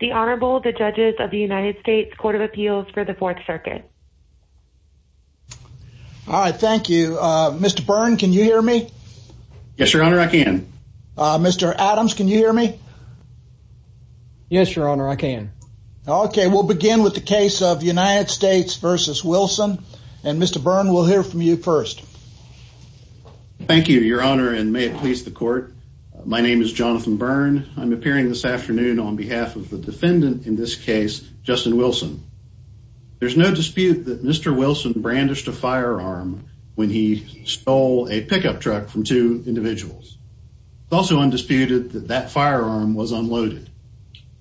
the Honorable the Judges of the United States Court of Appeals for the Fourth Circuit. All right, thank you. Mr. Byrne, can you hear me? Yes, Your Honor, I can. Mr. Adams, can you hear me? Yes, Your Honor, I can. Okay, we'll begin with the case of United States v. Wilson, and Mr. Byrne, we'll hear from you first. Thank you, Your Honor, and may it please the Court. My name is Jonathan Byrne. I'm of the defendant in this case, Justin Wilson. There's no dispute that Mr. Wilson brandished a firearm when he stole a pickup truck from two individuals. It's also undisputed that that firearm was unloaded.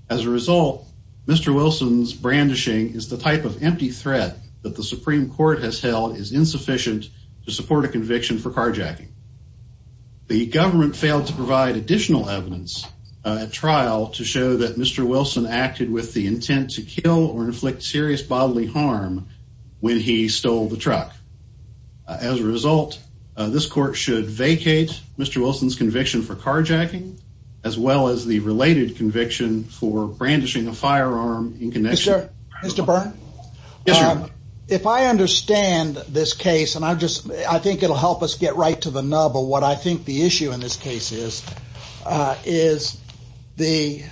As a result, Mr. Wilson's brandishing is the type of empty threat that the Supreme Court has held is insufficient to support a conviction for carjacking. The defendant, Mr. Wilson, acted with the intent to kill or inflict serious bodily harm when he stole the truck. As a result, this court should vacate Mr. Wilson's conviction for carjacking, as well as the related conviction for brandishing a firearm in connection. Mr. Byrne, if I understand this case, and I just I think it'll help us get right to the nub of what I think the issue in this case is, is the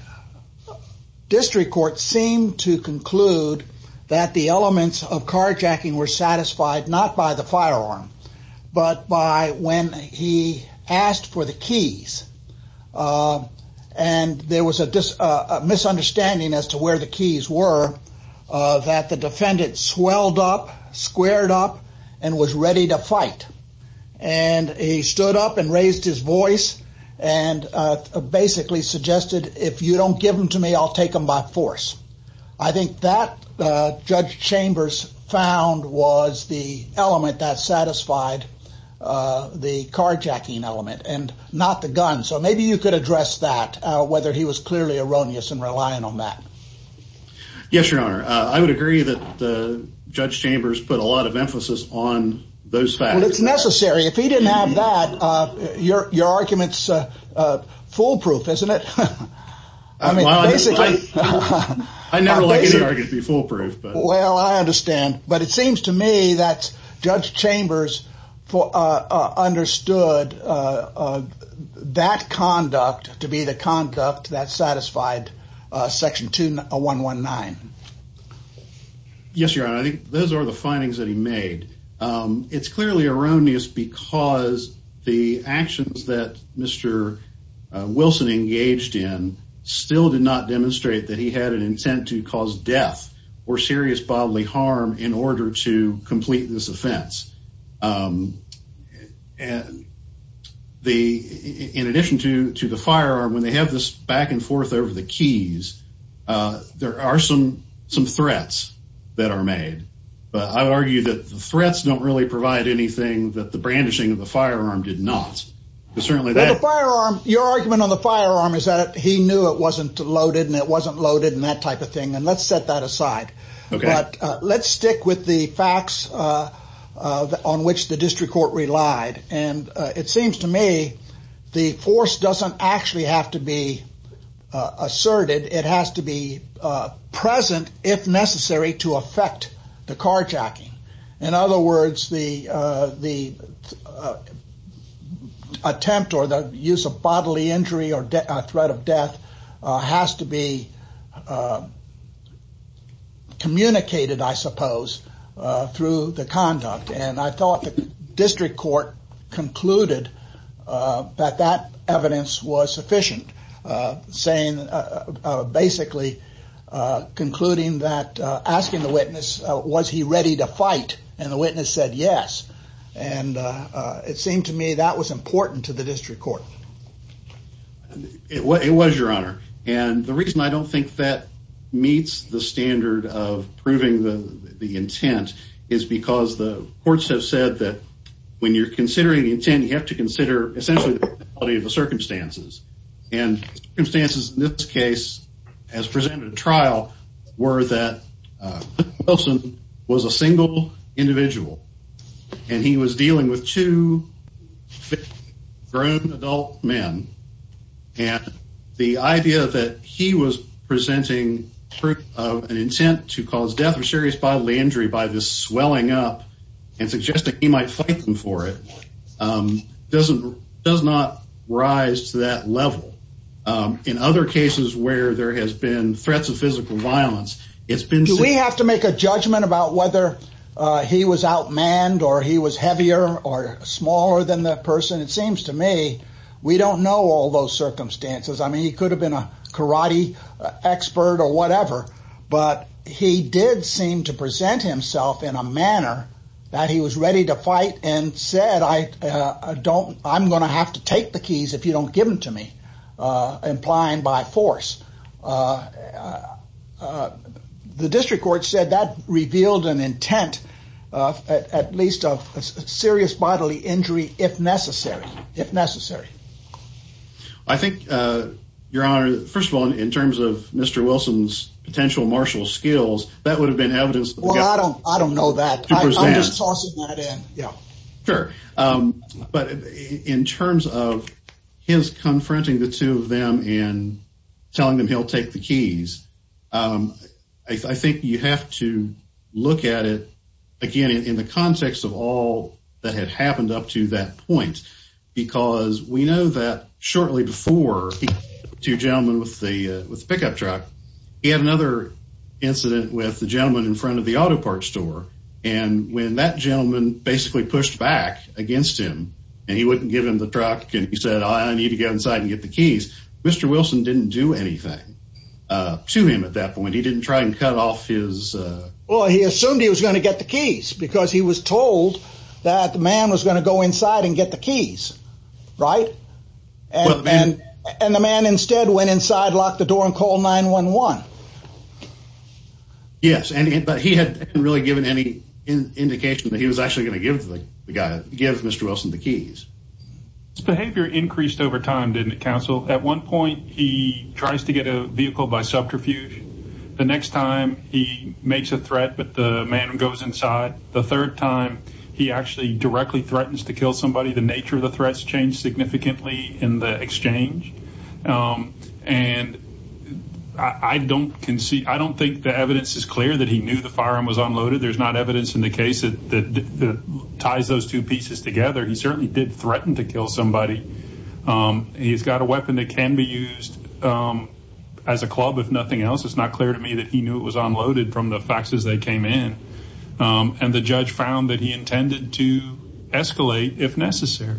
district court seemed to conclude that the elements of carjacking were satisfied not by the firearm, but by when he asked for the keys. And there was a misunderstanding as to where the keys were, that the defendant swelled up, squared up, and was ready to fight. And he stood up and and basically suggested, if you don't give them to me, I'll take them by force. I think that Judge Chambers found was the element that satisfied the carjacking element and not the gun. So maybe you could address that, whether he was clearly erroneous and relying on that. Yes, Your Honor, I would agree that the Judge Chambers put a lot of emphasis on those facts. Well, it's necessary. If he didn't have that, your argument's foolproof, isn't it? I mean, basically, I never like to be foolproof. Well, I understand. But it seems to me that Judge Chambers understood that conduct to be the conduct that satisfied Section 2-119. Yes, Your Honor, I think those are the findings that he made. It's clearly erroneous because the actions that Mr. Wilson engaged in still did not demonstrate that he had an intent to cause death or serious bodily harm in order to complete this offense. In addition to the firearm, when they have this back and forth over the keys, there are some some threats that are made. But I would argue that the threats don't really provide anything that the brandishing of the firearm did not. But certainly that firearm, your argument on the firearm is that he knew it wasn't loaded and it wasn't loaded and that type of thing. And let's set that aside. But let's stick with the facts on which the district court relied. And it doesn't actually have to be asserted. It has to be present if necessary to affect the carjacking. In other words, the the attempt or the use of bodily injury or threat of death has to be communicated, I suppose, through the evidence was sufficient, saying, basically concluding that, asking the witness, was he ready to fight? And the witness said yes. And it seemed to me that was important to the district court. It was, Your Honor. And the reason I don't think that meets the standard of proving the intent is because the courts have said that when you're considering the intent, you have to consider essentially the quality of the circumstances. And the circumstances in this case, as presented at trial, were that Wilson was a single individual and he was dealing with two grown adult men. And the idea that he was presenting proof of an intent to cause death or serious bodily injury by this swelling up and suggesting he might fight them for it, doesn't does not rise to that level. In other cases where there has been threats of physical violence, it's been... Do we have to make a judgment about whether he was outmanned or he was heavier or smaller than that person? It seems to me, we don't know all those circumstances. I mean, he could have been a karate expert or whatever. But he did seem to present himself in a manner that he was ready to fight and said, I'm going to have to take the keys if you don't give them to me, implying by force. The district court said that revealed an intent, at least of serious bodily injury, if necessary. I think, Your Honor, first of all, in terms of Mr. Wilson's potential martial skills, that would have been evidence. Well, I don't, I don't know that. I'm just tossing that in. Yeah, sure. But in terms of his confronting the two of them and telling them he'll take the keys, I think you have to look at it again in the context of all that had happened up to that point, because we know that shortly before, two gentlemen with the pickup truck, he had another incident with the gentleman in front of the auto parts store. And when that gentleman basically pushed back against him, and he wouldn't give him the truck, and he said, I need to get inside and get the keys. Mr. Wilson didn't do anything to him at that point. He didn't try and cut off his... Well, he assumed he was going to get the keys because he was told that the man was going to go inside and get the keys. Right? And the man instead went inside, locked the door and called 911. Yes, but he hadn't really given any indication that he was actually going to give the guy, give Mr. Wilson the keys. His behavior increased over time, didn't it, counsel? At one point, he tries to get a vehicle by subterfuge. The next time, he makes a threat, but the man goes inside. The third time, he actually directly threatens to kill somebody. The in the exchange. And I don't concede, I don't think the evidence is clear that he knew the firearm was unloaded. There's not evidence in the case that ties those two pieces together. He certainly did threaten to kill somebody. He's got a weapon that can be used as a club, if nothing else. It's not clear to me that he knew it was unloaded from the faxes they came in. And the judge found that he intended to escalate if necessary.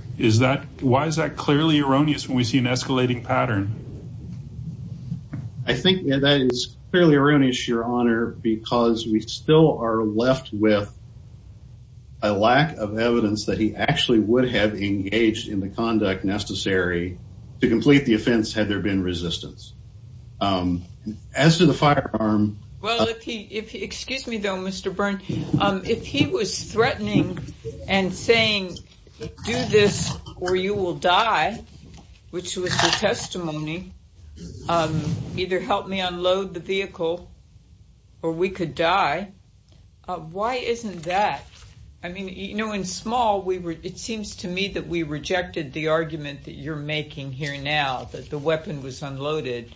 Why is that clearly erroneous when we see an escalating pattern? I think that is clearly erroneous, your honor, because we still are left with a lack of evidence that he actually would have engaged in the conduct necessary to complete the offense had there been resistance. As to the firearm- Excuse me, though, Mr. Byrne. If he was threatening and saying, do this or you will die, which was the testimony, either help me unload the vehicle or we could die. Why isn't that? I mean, you know, in small, it seems to me that we rejected the argument that you're making here now, that the weapon was unloaded.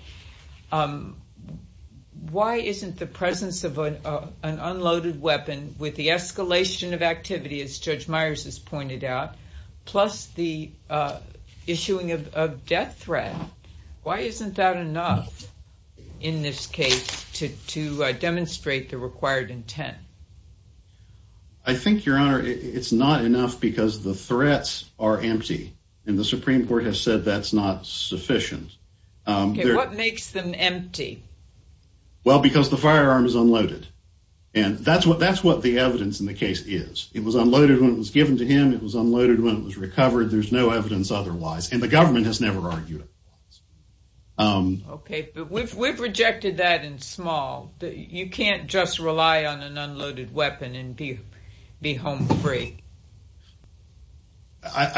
Why isn't the presence of an unloaded weapon, with the escalation of activity, as Judge Myers has pointed out, plus the issuing of death threat, why isn't that enough in this case to demonstrate the required intent? I think, your honor, it's not enough because the threats are empty, and the Supreme Court has said that's not sufficient. Okay, what makes them empty? Well, because the firearm is unloaded, and that's what the evidence in the case is. It was unloaded when it was given to him. It was unloaded when it was recovered. There's no evidence otherwise, and the government has never argued it. Okay, but we've rejected that in small. You can't just rely on an unloaded weapon and be home free.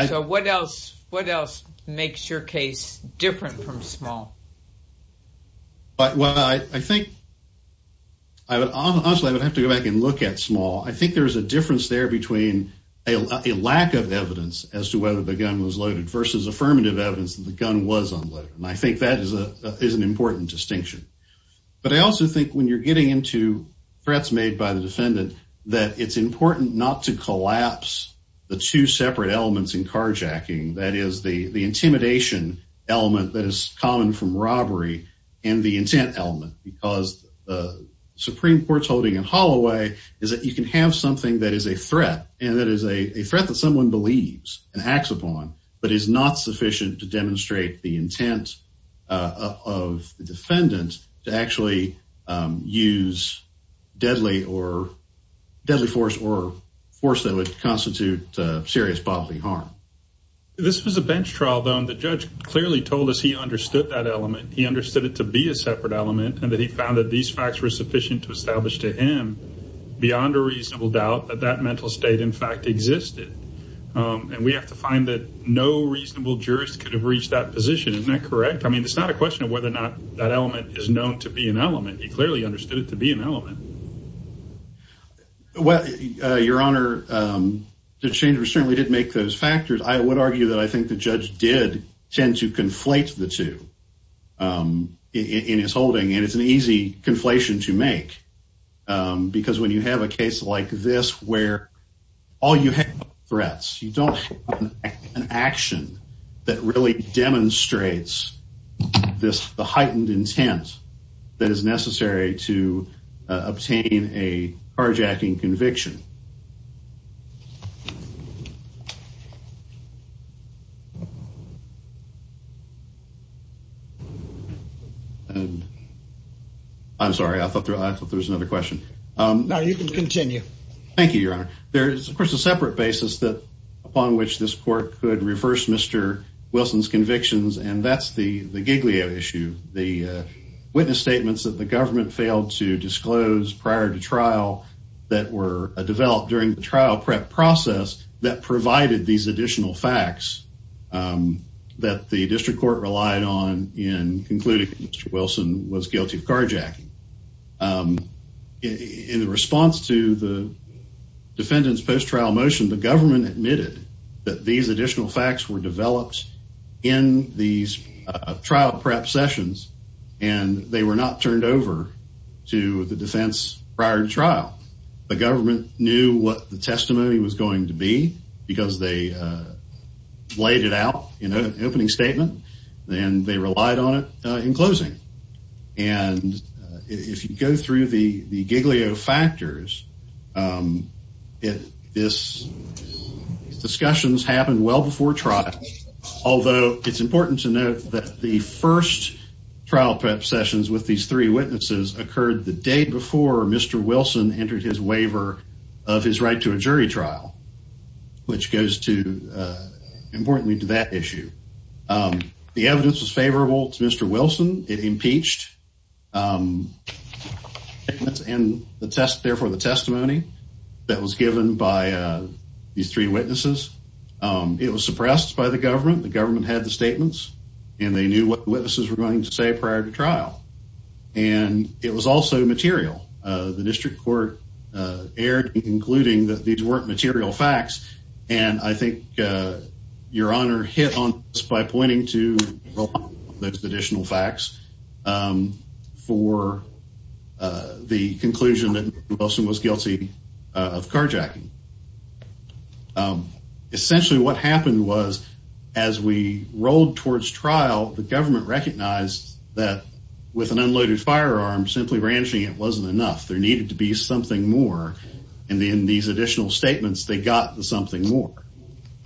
So what else makes your case different from small? Well, I think, honestly, I would have to go back and look at small. I think there's a difference there between a lack of evidence as to whether the gun was loaded, versus affirmative evidence that the gun was unloaded. And I think that is an important distinction. But I also think when you're getting into threats made by the defendant, that it's important not to collapse the two separate elements in carjacking, that is, the intimidation element that is common from robbery, and the intent element, because the Supreme Court's holding in Holloway is that you can have something that is a threat, and that is a threat that someone believes and acts upon, but is not sufficient to demonstrate the intent of the defendant to actually use deadly force or force that would constitute serious bodily harm. This was a bench trial, though, and the judge clearly told us he understood that element. He understood it to be a separate element, and that he found that these facts were sufficient to establish to him, beyond a reasonable doubt, that that mental state, in fact, existed. And we have to find that no reasonable jurist could have reached that position. Isn't that correct? I mean, it's not a question of whether or not that element is known to be an element. He clearly understood it to be an element. Well, Your Honor, the change certainly did make those factors. I would argue that I think the judge did tend to conflate the two in his holding, and it's an easy conflation to make, because when you have a case like this, where all you have are threats, you don't have an action that really demonstrates the intent to obtain a carjacking conviction. I'm sorry, I thought there was another question. No, you can continue. Thank you, Your Honor. There is, of course, a separate basis upon which this court could reverse Mr. Wilson's convictions, and that's the Giglio issue, the witness statements that the government failed to disclose prior to trial that were developed during the trial prep process that provided these additional facts that the district court relied on in concluding that Mr. Wilson was guilty of carjacking. In response to the defendant's post-trial motion, the government admitted that these additional facts were developed in these trial prep sessions, and they were not turned over to the defense prior to trial. The government knew what the testimony was going to be, because they laid it out in an opening statement, and they relied on it in closing. And if you go through the Giglio factors, these discussions happened well before trial, although it's important to note that the first trial prep sessions with these three witnesses occurred the day before Mr. Wilson entered his waiver of his right to a jury trial, which goes to, importantly, to that issue. The evidence was favorable to Mr. Wilson. It impeached the testimony that was given by these three witnesses. It was suppressed by the government. The government had the statements, and they knew what witnesses were going to say prior to trial. And it was also material. The district court erred in concluding that these weren't material facts, and I think Your Honor hit on this by pointing to those additional facts for the conclusion that Mr. Wilson was guilty of carjacking. Essentially, what happened was, as we rolled towards trial, the government recognized that with an unloaded firearm, simply branching it wasn't enough. There needed to be something more. And in these additional statements, they got something more.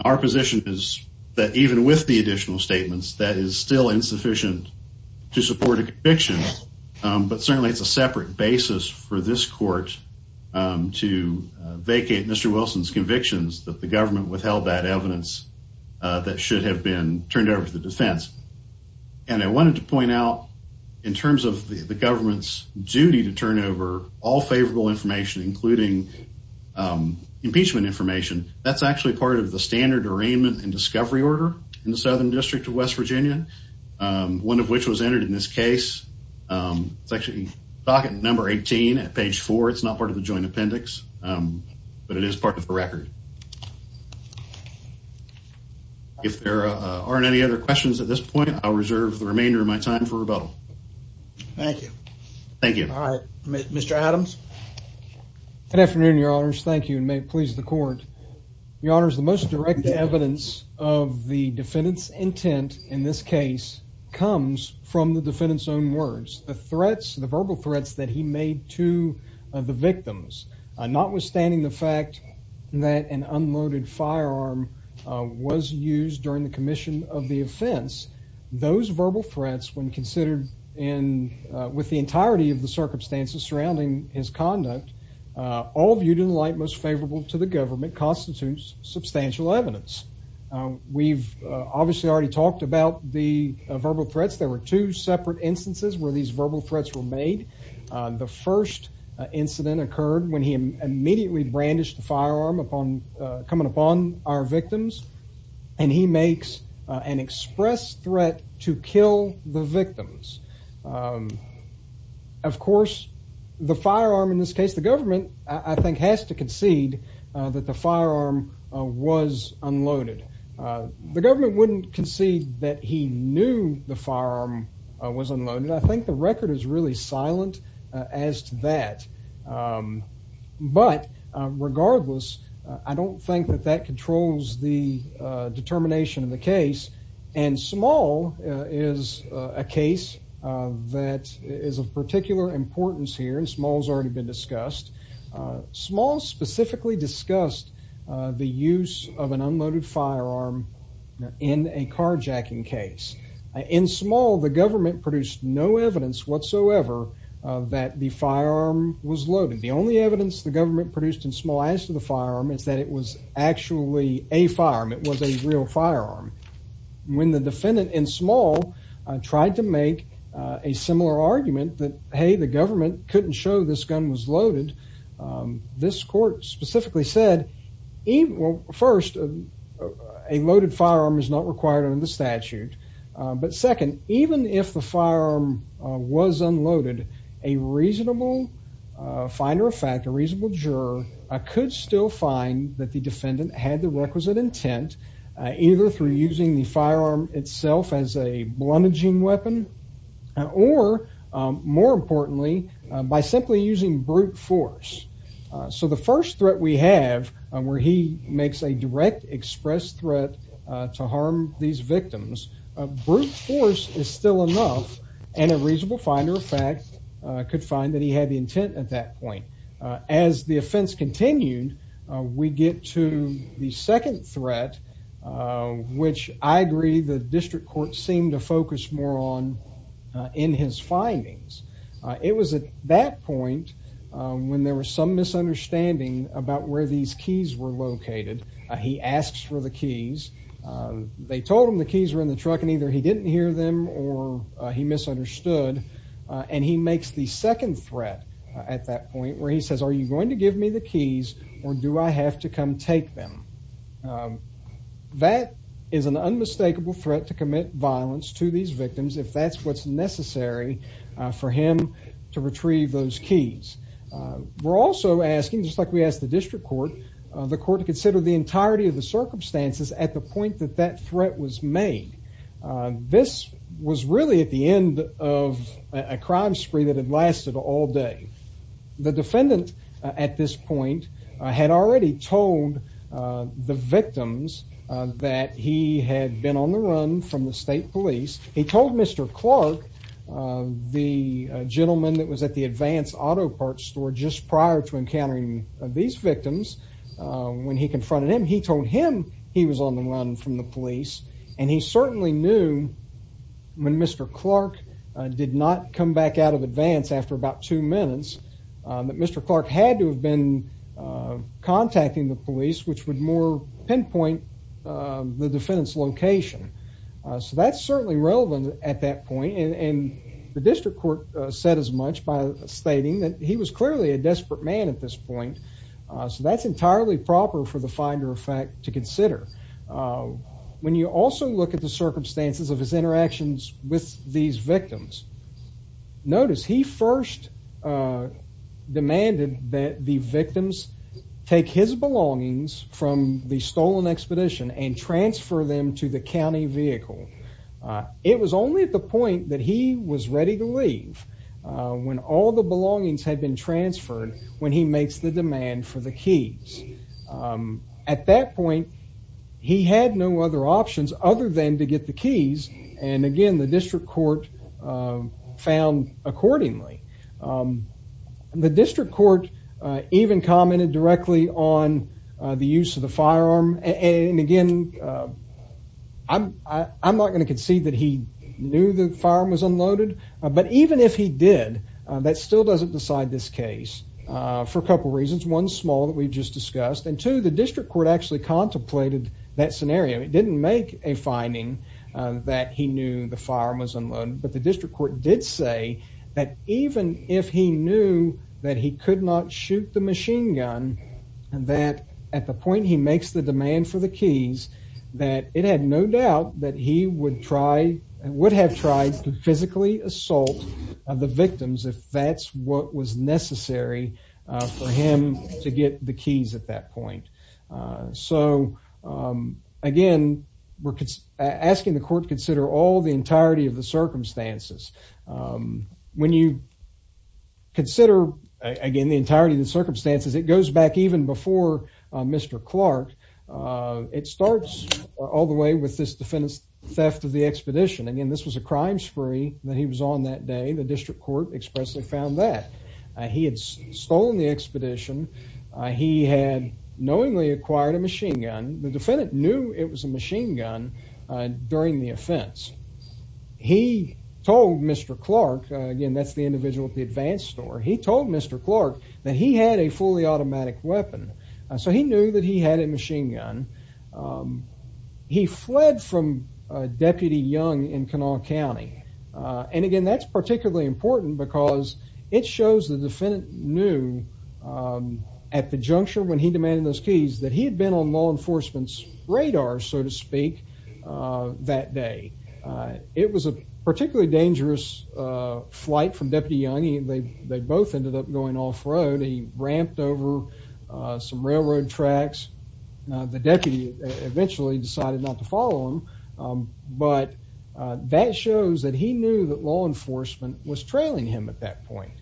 Our position is that even with the additional statements, that is still insufficient to support a conviction. But certainly it's a separate basis for this court to vacate Mr. Wilson's convictions that the government withheld that evidence that should have been turned over to the defense. And I wanted to point out, in terms of the government's duty to turn over all favorable information, including impeachment information, that's actually part of the standard arraignment and discovery order in the Southern District of West Virginia, one of which was entered in this case. It's actually docket number 18 at page four. It's not part of the joint appendix, but it is part of the record. If there aren't any other questions at this point, I'll reserve the remainder of my time for rebuttal. Thank you. Thank you. All right, Mr Adams. Good afternoon, Your Honors. Thank you. And may it please the court. Your honors, the most direct evidence of the defendant's intent in this case comes from the defendant's own words. The threats, the verbal threats that he made to the victims, notwithstanding the fact that an unloaded firearm was used during the commission of the offense, those verbal threats, when considered and with the entirety of the circumstances surrounding his conduct, all viewed in light most favorable to the government, constitutes substantial evidence. We've obviously already talked about the verbal threats. There were two separate instances where these verbal threats were made. The first incident occurred when he immediately brandished a firearm coming upon our victims, and he makes an express threat to kill the victims. Of course, the firearm in this case, the government, I think, has to concede that the firearm was unloaded. The government wouldn't concede that he knew the firearm was unloaded. I think the record is really silent as to that. But regardless, I don't think that that controls the determination of the case. And small is a case that is of particular importance here. And small has already been discussed. Small specifically discussed the use of an In small, the government produced no evidence whatsoever that the firearm was loaded. The only evidence the government produced in small as to the firearm is that it was actually a firearm. It was a real firearm. When the defendant in small tried to make a similar argument that, hey, the government couldn't show this gun was loaded, this court specifically said, first, a loaded Second, even if the firearm was unloaded, a reasonable finder of fact, a reasonable juror, could still find that the defendant had the requisite intent, either through using the firearm itself as a blemishing weapon or, more importantly, by simply using brute force. So the first threat we have where he makes a direct express threat to harm these victims, brute force is still enough, and a reasonable finder of fact could find that he had the intent at that point. As the offense continued, we get to the second threat, which I agree the district court seemed to focus more on in his findings. It was at that point when there was some misunderstanding about where these keys were located. He asks for the keys. They told him the keys were in the truck, and either he didn't hear them or he misunderstood. And he makes the second threat at that point, where he says, Are you going to give me the keys or do I have to come take them? That is an unmistakable threat to commit violence to these victims if that's what's necessary for him to retrieve those keys. We're also asking, just like we asked the district court, the court to consider the entirety of the circumstances at the point that that threat was made. This was really at the end of a crime spree that had lasted all day. The defendant at this point had already told the victims that he had been on the run from the state police. He told Mr. Clark, the gentleman that was at the Advance Auto Parts store just prior to encountering these victims, when he confronted him, he told him he was on the run from the police. And he certainly knew when Mr. Clark did not come back out of Advance after about two minutes, that Mr. Clark had to have been contacting the police, which would more pinpoint the relevant at that point. And the district court said as much by stating that he was clearly a desperate man at this point. So that's entirely proper for the finder of fact to consider. When you also look at the circumstances of his interactions with these victims, notice he first, uh, demanded that the victims take his belongings from the stolen expedition and transfer them to the county vehicle. It was only at the point that he was ready to leave when all the belongings had been transferred when he makes the demand for the keys. Um, at that point, he had no other options other than to get the keys. And again, the district court, uh, found accordingly. Um, the district court even commented directly on the use of the firearm. And again, uh, I'm I'm not gonna concede that he knew the farm was unloaded. But even if he did, that still doesn't decide this case for a couple reasons. One small that we just discussed into the district court actually contemplated that scenario. It didn't make a finding that he knew the farm was unloaded. But the district court did say that even if he knew that he could not shoot the machine gun and that at the point he makes the demand for the keys that it had no doubt that he would try and would have tried to physically assault the victims if that's what was necessary for him to get the keys at that point. Eso again, we're asking the court consider all the entirety of the circumstances. Um, when you consider again the entirety of the circumstances, it goes back even before Mr Clark. Uh, it starts all the way with this defendant's theft of the expedition. Again, this was a crime spree that he was on that day. The district court expressly found that he had stolen the expedition. He had knew it was a machine gun during the offense. He told Mr Clark again, that's the individual at the advance store. He told Mr Clark that he had a fully automatic weapon. Eso he knew that he had a machine gun. Um, he fled from Deputy Young in Kanawha County on again. That's particularly important because it shows the defendant knew, um, at the juncture when he demanded those keys that he had been on law enforcement's radar, so to speak. Uh, that day, uh, it was a particularly dangerous, uh, flight from Deputy Young. They both ended up going off road. He ramped over some railroad tracks. The deputy eventually decided not to follow him. Um, but that shows that he knew that law enforcement was trailing him at that point.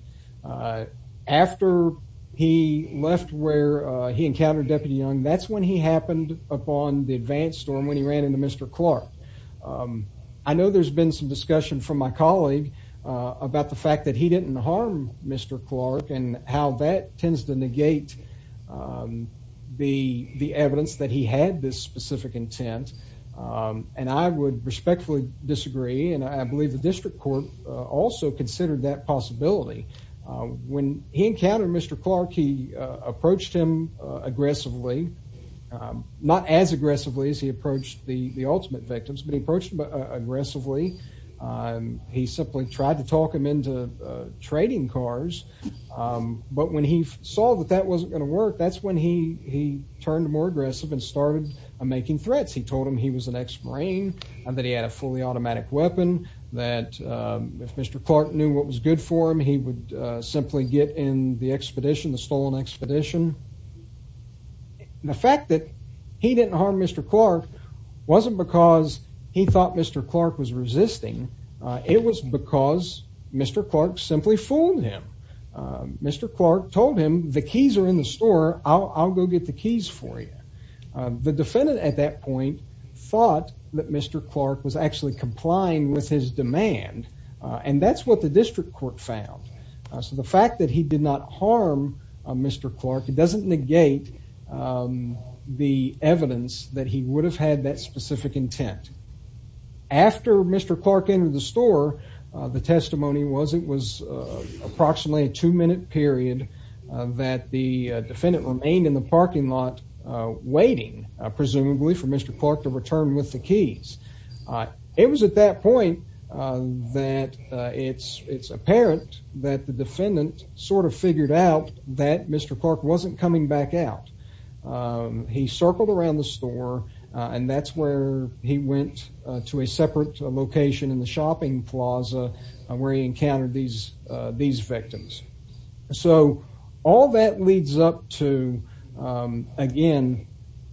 Uh, after he left where he encountered Deputy Young, that's when he happened upon the advanced storm when he ran into Mr Clark. Um, I know there's been some discussion from my colleague about the fact that he didn't harm Mr Clark and how that tends to negate, um, the evidence that he had this specific intent. Um, and I would respectfully disagree. And I believe the district court also considered that possibility. Uh, when he encountered Mr Clark, he approached him aggressively. Um, not as aggressively as he approached the ultimate victims, but he approached aggressively. Um, he simply tried to talk him into trading cars. Um, but when he saw that that wasn't gonna work, that's when he turned more aggressive and started making threats. He told him he was an ex marine and that he had a fully automatic weapon that, um, if Mr Clark knew what was good for him, he would simply get in the expedition, the stolen expedition. The fact that he didn't harm Mr Clark wasn't because he thought Mr Clark was resisting. It was because Mr Clark simply fooled him. Mr Clark told him the keys are in the store. I'll go get the keys for you. The defendant at that point thought that Mr Clark was actually complying with his demand. And that's what the district court found. So the fact that he did not harm Mr Clark, it doesn't negate, um, the evidence that he would have had that specific intent. After Mr Clark into the store, the testimony was it was approximately a two minute period that the defendant remained in the parking lot waiting, presumably for Mr Clark to return with the keys. Uh, it was at that point, uh, that it's apparent that the defendant sort of figured out that Mr Clark wasn't coming back out. Um, he circled around the store, and that's where he went to a separate location in the shopping plaza where he encountered these, uh, these victims. So all that leads up to, um, again,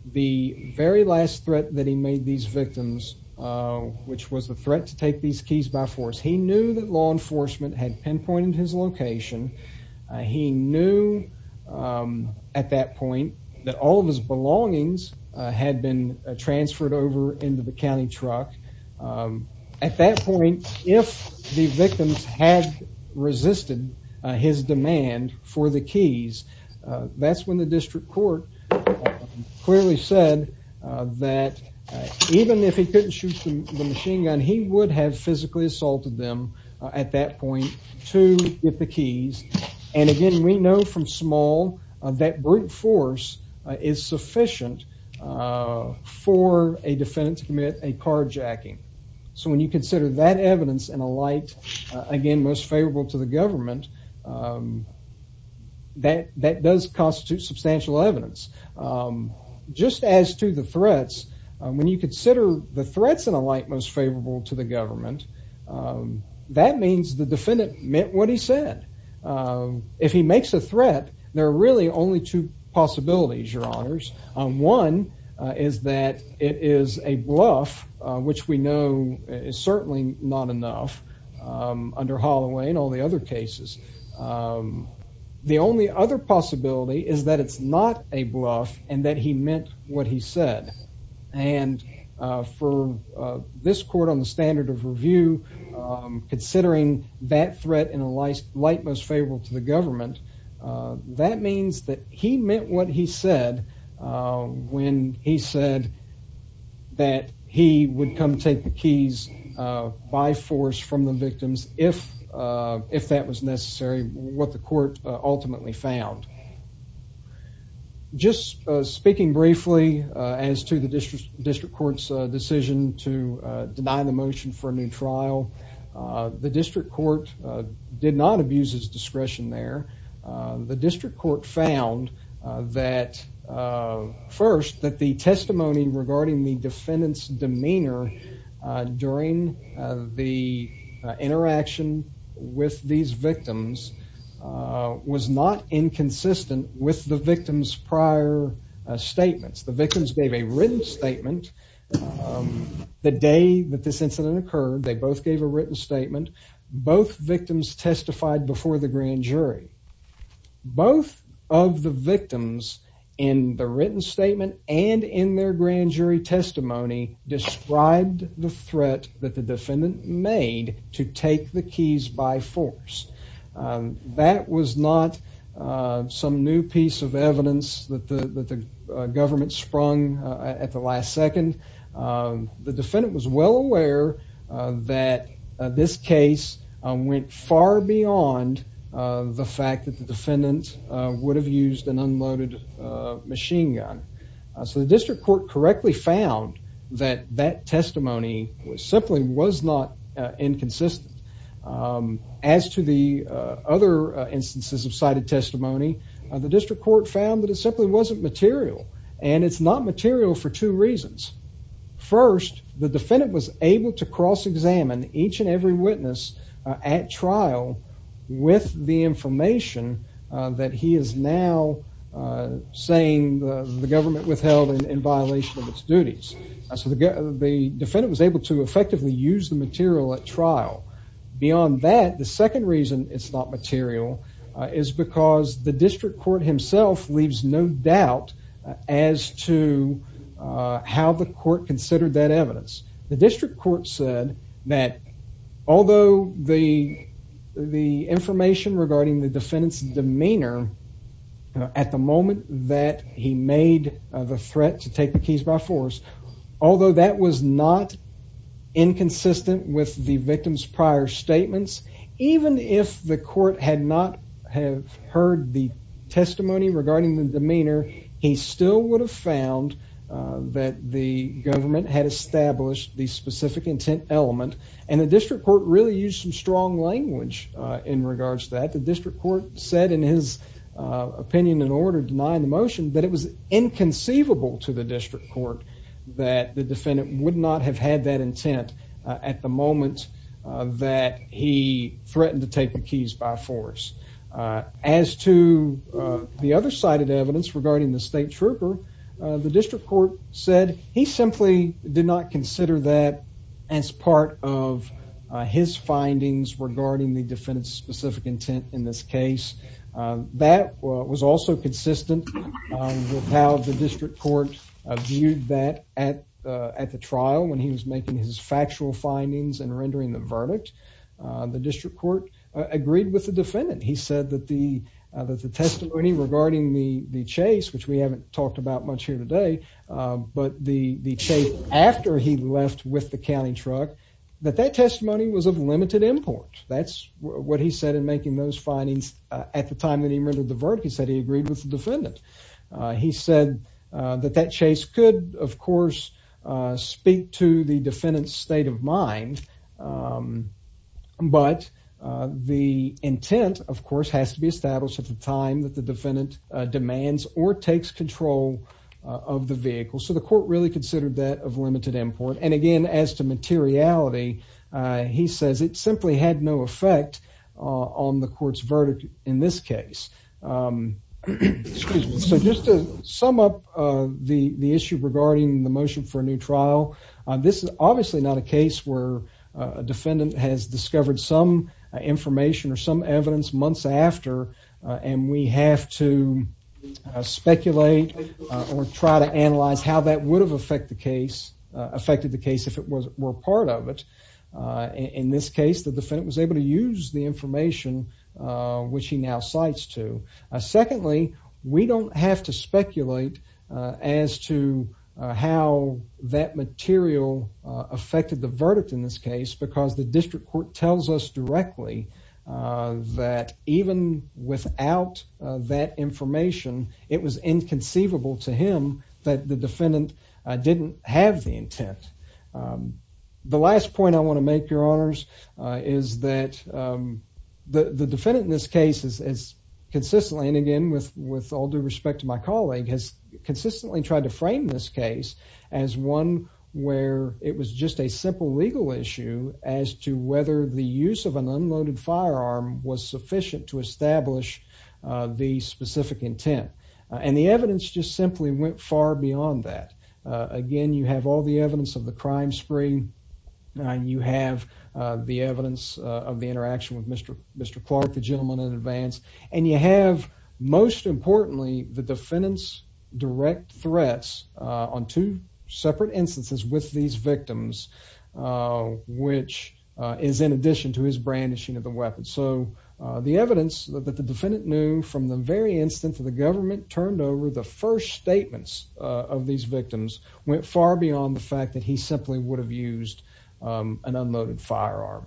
the very last threat that he made these victims, which was the threat to take these keys by force. He knew that law enforcement had pinpointed his location. He knew, um, at that point that all of his belongings had been transferred over into the resisted his demand for the keys. That's when the district court clearly said that even if he couldn't shoot the machine gun, he would have physically assaulted them at that point to get the keys. And again, we know from small that brute force is sufficient, uh, for a defendant to commit a carjacking. So again, most favorable to the government. Um, that that does constitute substantial evidence. Um, just as to the threats. When you consider the threats in a light most favorable to the government, um, that means the defendant meant what he said. Um, if he makes a threat, there are really only two possibilities. Your honors on one is that it is a bluff, which we know is in all the other cases. Um, the only other possibility is that it's not a bluff and that he meant what he said. And for this court on the standard of review, considering that threat in a light, light, most favorable to the government, that means that he meant what he said when he said that he would come take the keys by force from the victims if if that was necessary. What the court ultimately found just speaking briefly as to the district district court's decision to deny the motion for a new trial. The district court did not abuse his discretion there. The district court found that, uh, first that the during the interaction with these victims was not inconsistent with the victims. Prior statements, the victims gave a written statement. Um, the day that this incident occurred, they both gave a written statement. Both victims testified before the grand jury. Both of the victims in the written statement and in their grand jury testimony described the threat that the defendant made to take the keys by force. Um, that was not some new piece of evidence that the government sprung at the last second. Um, the defendant was well aware that this case went far beyond the fact that the defendant would have used an unloaded machine gun. So the district court correctly found that that testimony was simply was not inconsistent. Um, as to the other instances of cited testimony, the district court found that it simply wasn't material, and it's not material for two reasons. First, the defendant was able to cross examine each and every witness at trial with the uh, saying the government withheld in violation of its duties. So the defendant was able to effectively use the material at trial. Beyond that, the second reason it's not material is because the district court himself leaves no doubt as to how the court considered that evidence. The district court said that although the the information regarding the defendant's at the moment that he made the threat to take the keys by force, although that was not inconsistent with the victim's prior statements, even if the court had not have heard the testimony regarding the demeanor, he still would have found that the government had established the specific intent element, and the district court really used some strong language in regards that the opinion in order denying the motion that it was inconceivable to the district court that the defendant would not have had that intent at the moment that he threatened to take the keys by force. Uh, as to the other cited evidence regarding the state trooper, the district court said he simply did not consider that as part of his findings regarding the defendant's specific intent. In this case, that was also consistent with how the district court viewed that at at the trial when he was making his factual findings and rendering the verdict. The district court agreed with the defendant. He said that the that the testimony regarding the chase, which we haven't talked about much here today, but the chase after he left with the county truck that that testimony was of limited import. That's what he said in making those findings at the time that he rendered the verdict. He said he agreed with the defendant. He said that that chase could, of course, speak to the defendant's state of mind. Um, but the intent, of course, has to be established at the time that the defendant demands or takes control of the vehicle. So the court really considered that of limited import. And says it simply had no effect on the court's verdict in this case. Um, so just to sum up the issue regarding the motion for a new trial, this is obviously not a case where a defendant has discovered some information or some evidence months after. And we have to speculate or try to analyze how that would have affect the case affected the case if it was were part of it. In this case, the defendant was able to use the information which he now cites to. Secondly, we don't have to speculate as to how that material affected the verdict in this case because the district court tells us directly that even without that information, it was inconceivable to him that the didn't have the intent. Um, the last point I want to make your honors is that, um, the defendant in this case is consistently and again with with all due respect to my colleague has consistently tried to frame this case as one where it was just a simple legal issue as to whether the use of an unloaded firearm was sufficient to establish the specific intent. And the evidence just simply went far beyond that. Again, you have all the evidence of the crime spree and you have the evidence of the interaction with Mr Mr Clark, the gentleman in advance. And you have most importantly, the defendant's direct threats on two separate instances with these victims, uh, which is in addition to his brandishing of the weapon. So the evidence that the defendant knew from the very instance of the government turned over the first statements of these victims went far beyond the fact that he simply would have used, um, an unloaded firearm.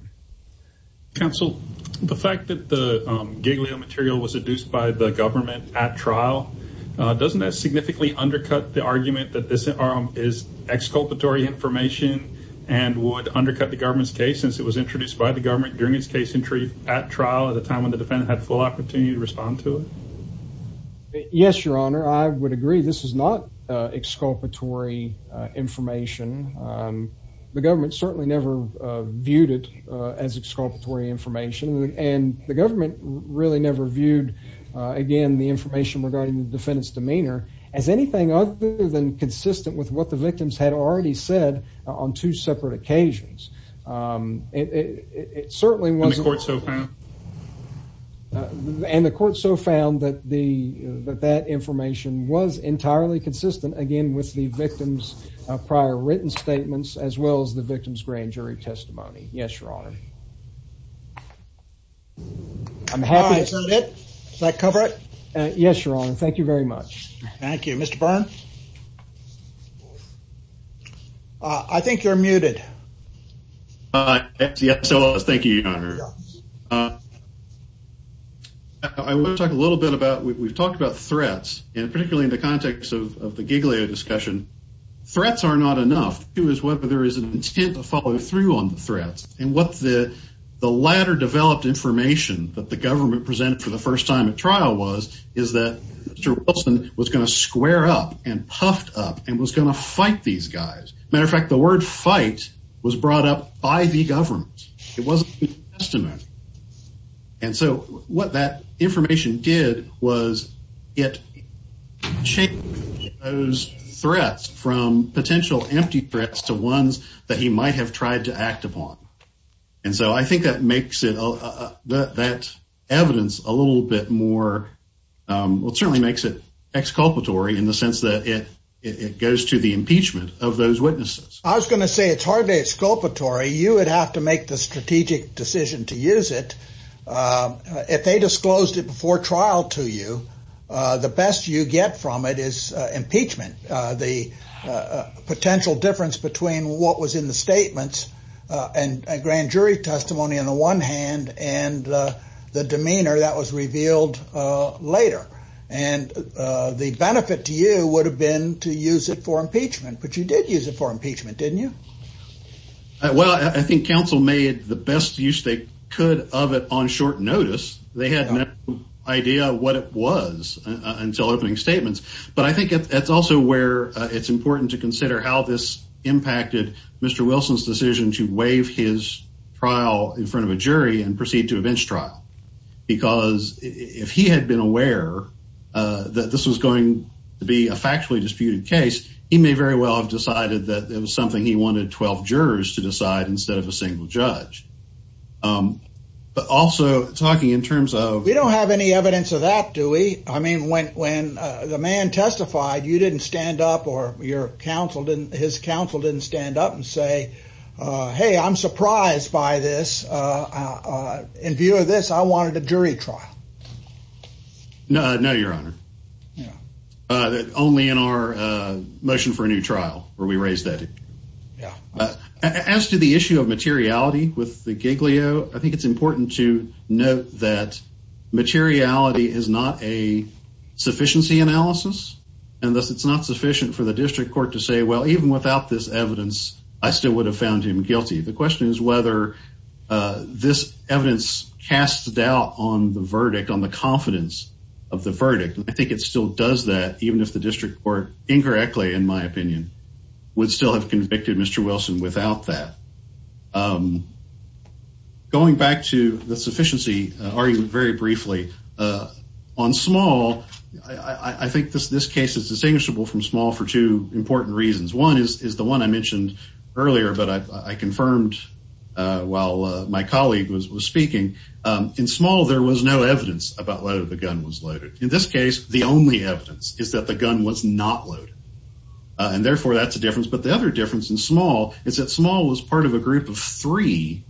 Counsel, the fact that the giggly material was seduced by the government at trial doesn't that significantly undercut the argument that this arm is exculpatory information and would undercut the government's case since it was introduced by the government during his case in truth at trial at the time of the defendant had full opportunity to respond to it. Yes, Your Honor, I would agree. This is not exculpatory information. Um, the government certainly never viewed it as exculpatory information, and the government really never viewed again the information regarding the defendant's demeanor as anything other than consistent with what the victims had already said on two separate occasions. Um, it certainly wasn't court. So and the court so found that the that that information was entirely consistent again with the victims of prior written statements as well as the victim's grand jury testimony. Yes, Your Honor. I'm happy. Is that cover it? Yes, Your Honor. Thank you very much. Thank you, Mr Byrne. I think you're muted. Uh, yes. So thank you, Your Honor. Uh, I want to talk a little bit about we've talked about threats and particularly in the context of the Giglio discussion. Threats are not enough. It was whether there is an intent to follow through on the threats and what the latter developed information that the government presented for the first time at trial was is that Mr Wilson was gonna square up and puffed up and was gonna fight these guys. Matter of fact, the word fight was brought up by the government. It wasn't just a man. And so what that information did was it shake those threats from potential empty threats to ones that he might have tried to act upon. And so I think that makes it that that evidence a little bit more. Um, it certainly makes it exculpatory in the sense that it goes to the impeachment of those witnesses. I was gonna say it's hardly exculpatory. You would have to make the strategic decision to use it. Uh, if they disclosed it before trial to you, the best you get from it is impeachment. The potential difference between what was in the statements and grand jury testimony on the one hand and the demeanor that was revealed later and the benefit to you would have been to use it for impeachment. But you did use it for impeachment, didn't you? Well, I think Council made the best use they could of it on short notice. They had no idea what it was until opening statements. But I think that's also where it's important to consider how this impacted Mr Wilson's decision to waive his trial in front of a jury and proceed to a bench trial because if he had been aware that this was going to be a factually disputed case, he may very well have decided that it was something he wanted 12 jurors to decide instead of a single judge. Um, but also talking in terms of we don't have any evidence of that, do we? I mean, when when the man testified, you didn't stand up or your counsel didn't. His counsel didn't stand up and say, Hey, I'm surprised by this. Uh, in view of this, I wanted a jury trial. No, no, Your Honor. Yeah, only in our motion for a new trial where we raised that. Yeah. As to the issue of materiality with the Giglio, I think it's important to note that materiality is not a sufficiency analysis, and thus it's not sufficient for the district court to say, Well, even without this evidence, I still would have found him guilty. The question is whether, uh, this evidence cast doubt on the verdict on the confidence of the verdict. I think it still does that, even if the district court incorrectly, in my opinion, would still have convicted Mr Wilson without that. Um, going back to the sufficiency argument very briefly, uh, on small, I think this case is distinguishable from small for two important reasons. One is the one I was speaking in small. There was no evidence about whether the gun was loaded. In this case, the only evidence is that the gun was not loaded, and therefore that's a difference. But the other difference in small is that small was part of a group of three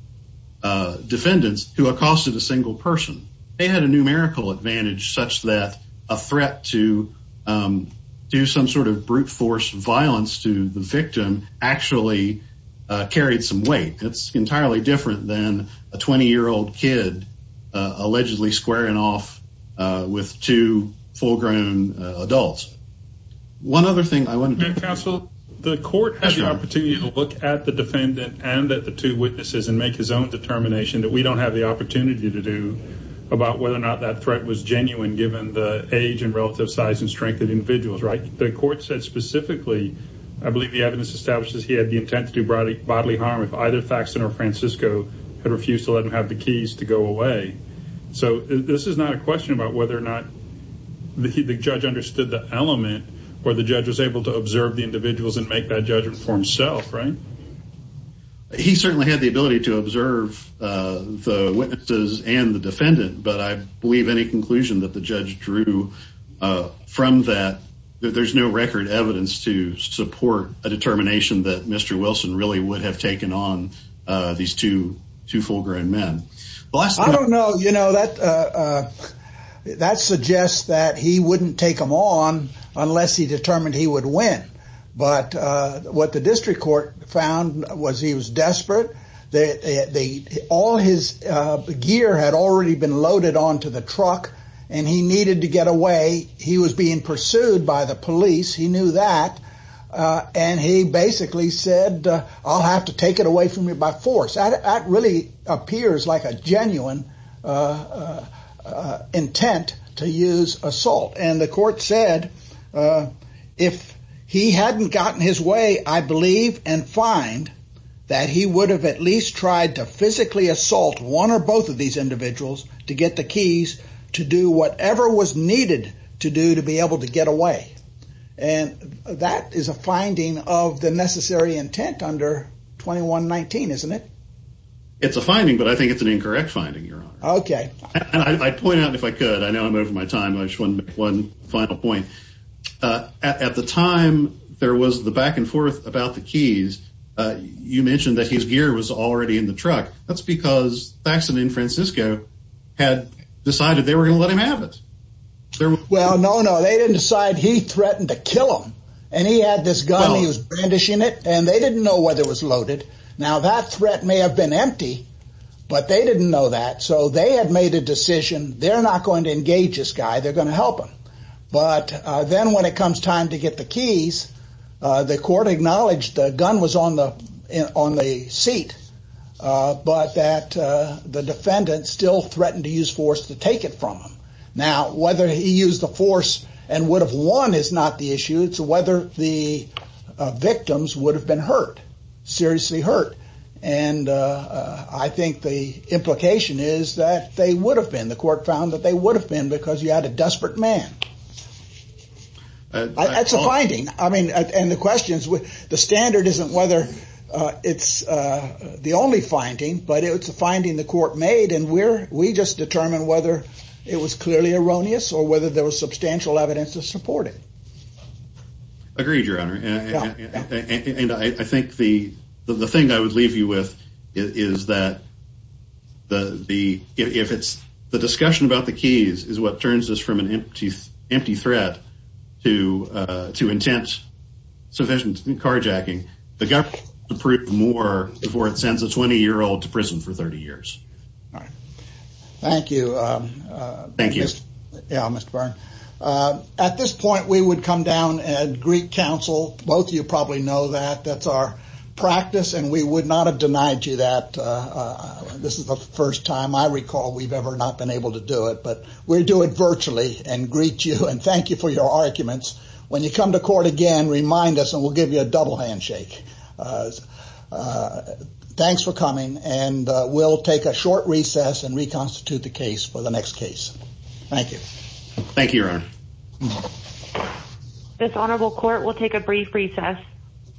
defendants who accosted a single person. They had a numerical advantage such that a threat to, um, do some sort of brute force violence to the victim actually carried some weight. It's entirely different than a 20 year old kid allegedly squaring off with two full grown adults. One other thing I wouldn't counsel. The court has the opportunity to look at the defendant and that the two witnesses and make his own determination that we don't have the opportunity to do about whether or not that threat was genuine. Given the age and relative size and strength of individuals, right? The court said specifically, I believe the evidence establishes he had the intent to do broadly bodily harm. If either facts that are Francisco had refused to let him have the keys to go away. So this is not a question about whether or not the judge understood the element where the judge was able to observe the individuals and make that judgment for himself, right? He certainly had the ability to observe, uh, the witnesses and the defendant. But I believe any conclusion that the judge drew from that there's no record evidence to support a determination that Mr Wilson really would have taken on these 22 full grown men. Well, I don't know. You know, that, uh, that suggests that he wouldn't take him on unless he determined he would win. But what the district court found was he was desperate. They all his gear had already been loaded onto the truck and he needed to get away. He was being pursued by the police. He knew that. Uh, and he basically said, I'll have to take it away from me by force. That really appears like a genuine, uh, intent to use assault. And the court said, uh, if he hadn't gotten his way, I believe and find that he would have at least tried to physically assault one or both of these individuals to get the keys to do whatever was to do to be able to get away. And that is a finding of the necessary intent under 21 19, isn't it? It's a finding, but I think it's an incorrect finding. You're okay. I point out if I could. I know I'm over my time. I just want one final point. Uh, at the time there was the back and forth about the keys. Uh, you mentioned that his gear was already in the truck. That's because facts and Francisco had decided they were gonna let him have it. Well, no, no, they didn't decide he threatened to kill him and he had this gun. He was brandishing it and they didn't know whether it was loaded. Now that threat may have been empty, but they didn't know that. So they had made a decision. They're not going to engage this guy. They're gonna help him. But then when it comes time to get the keys, uh, the court acknowledged the gun was on the on the seat. Uh, but that, uh, the defendant still threatened to use force to take it from him. Now, whether he used the force and would have won is not the issue. It's whether the victims would have been hurt, seriously hurt. And, uh, I think the implication is that they would have been. The court found that they would have been because you had a desperate man. That's a finding. I mean, and the questions with the standard isn't whether it's the only finding, but it's a finding the court made. And we're we just determine whether it was clearly erroneous or whether there was substantial evidence to support it. Agreed, Your Honor. And I think the thing I would leave you with is that the if it's the discussion about the keys is what turns us from an empty, empty threat to to intense sufficient carjacking. The government approved more before it sends a 20 year old to prison for 30 years. All right. Thank you. Thank you. Yeah, Mr Byrne. At this point, we would come down and Greek Council. Both you probably know that that's our practice, and we would not have denied you that. Uh, this is the first time I recall we've ever not been able to do it, but we're doing virtually and greet you and thank you for your arguments. When you come to court again, remind us and we'll give you a double handshake. Uh, thanks for coming. And we'll take a short recess and reconstitute the case for the next case. Thank you. Thank you, Your Honor. This honorable court will take a brief recess.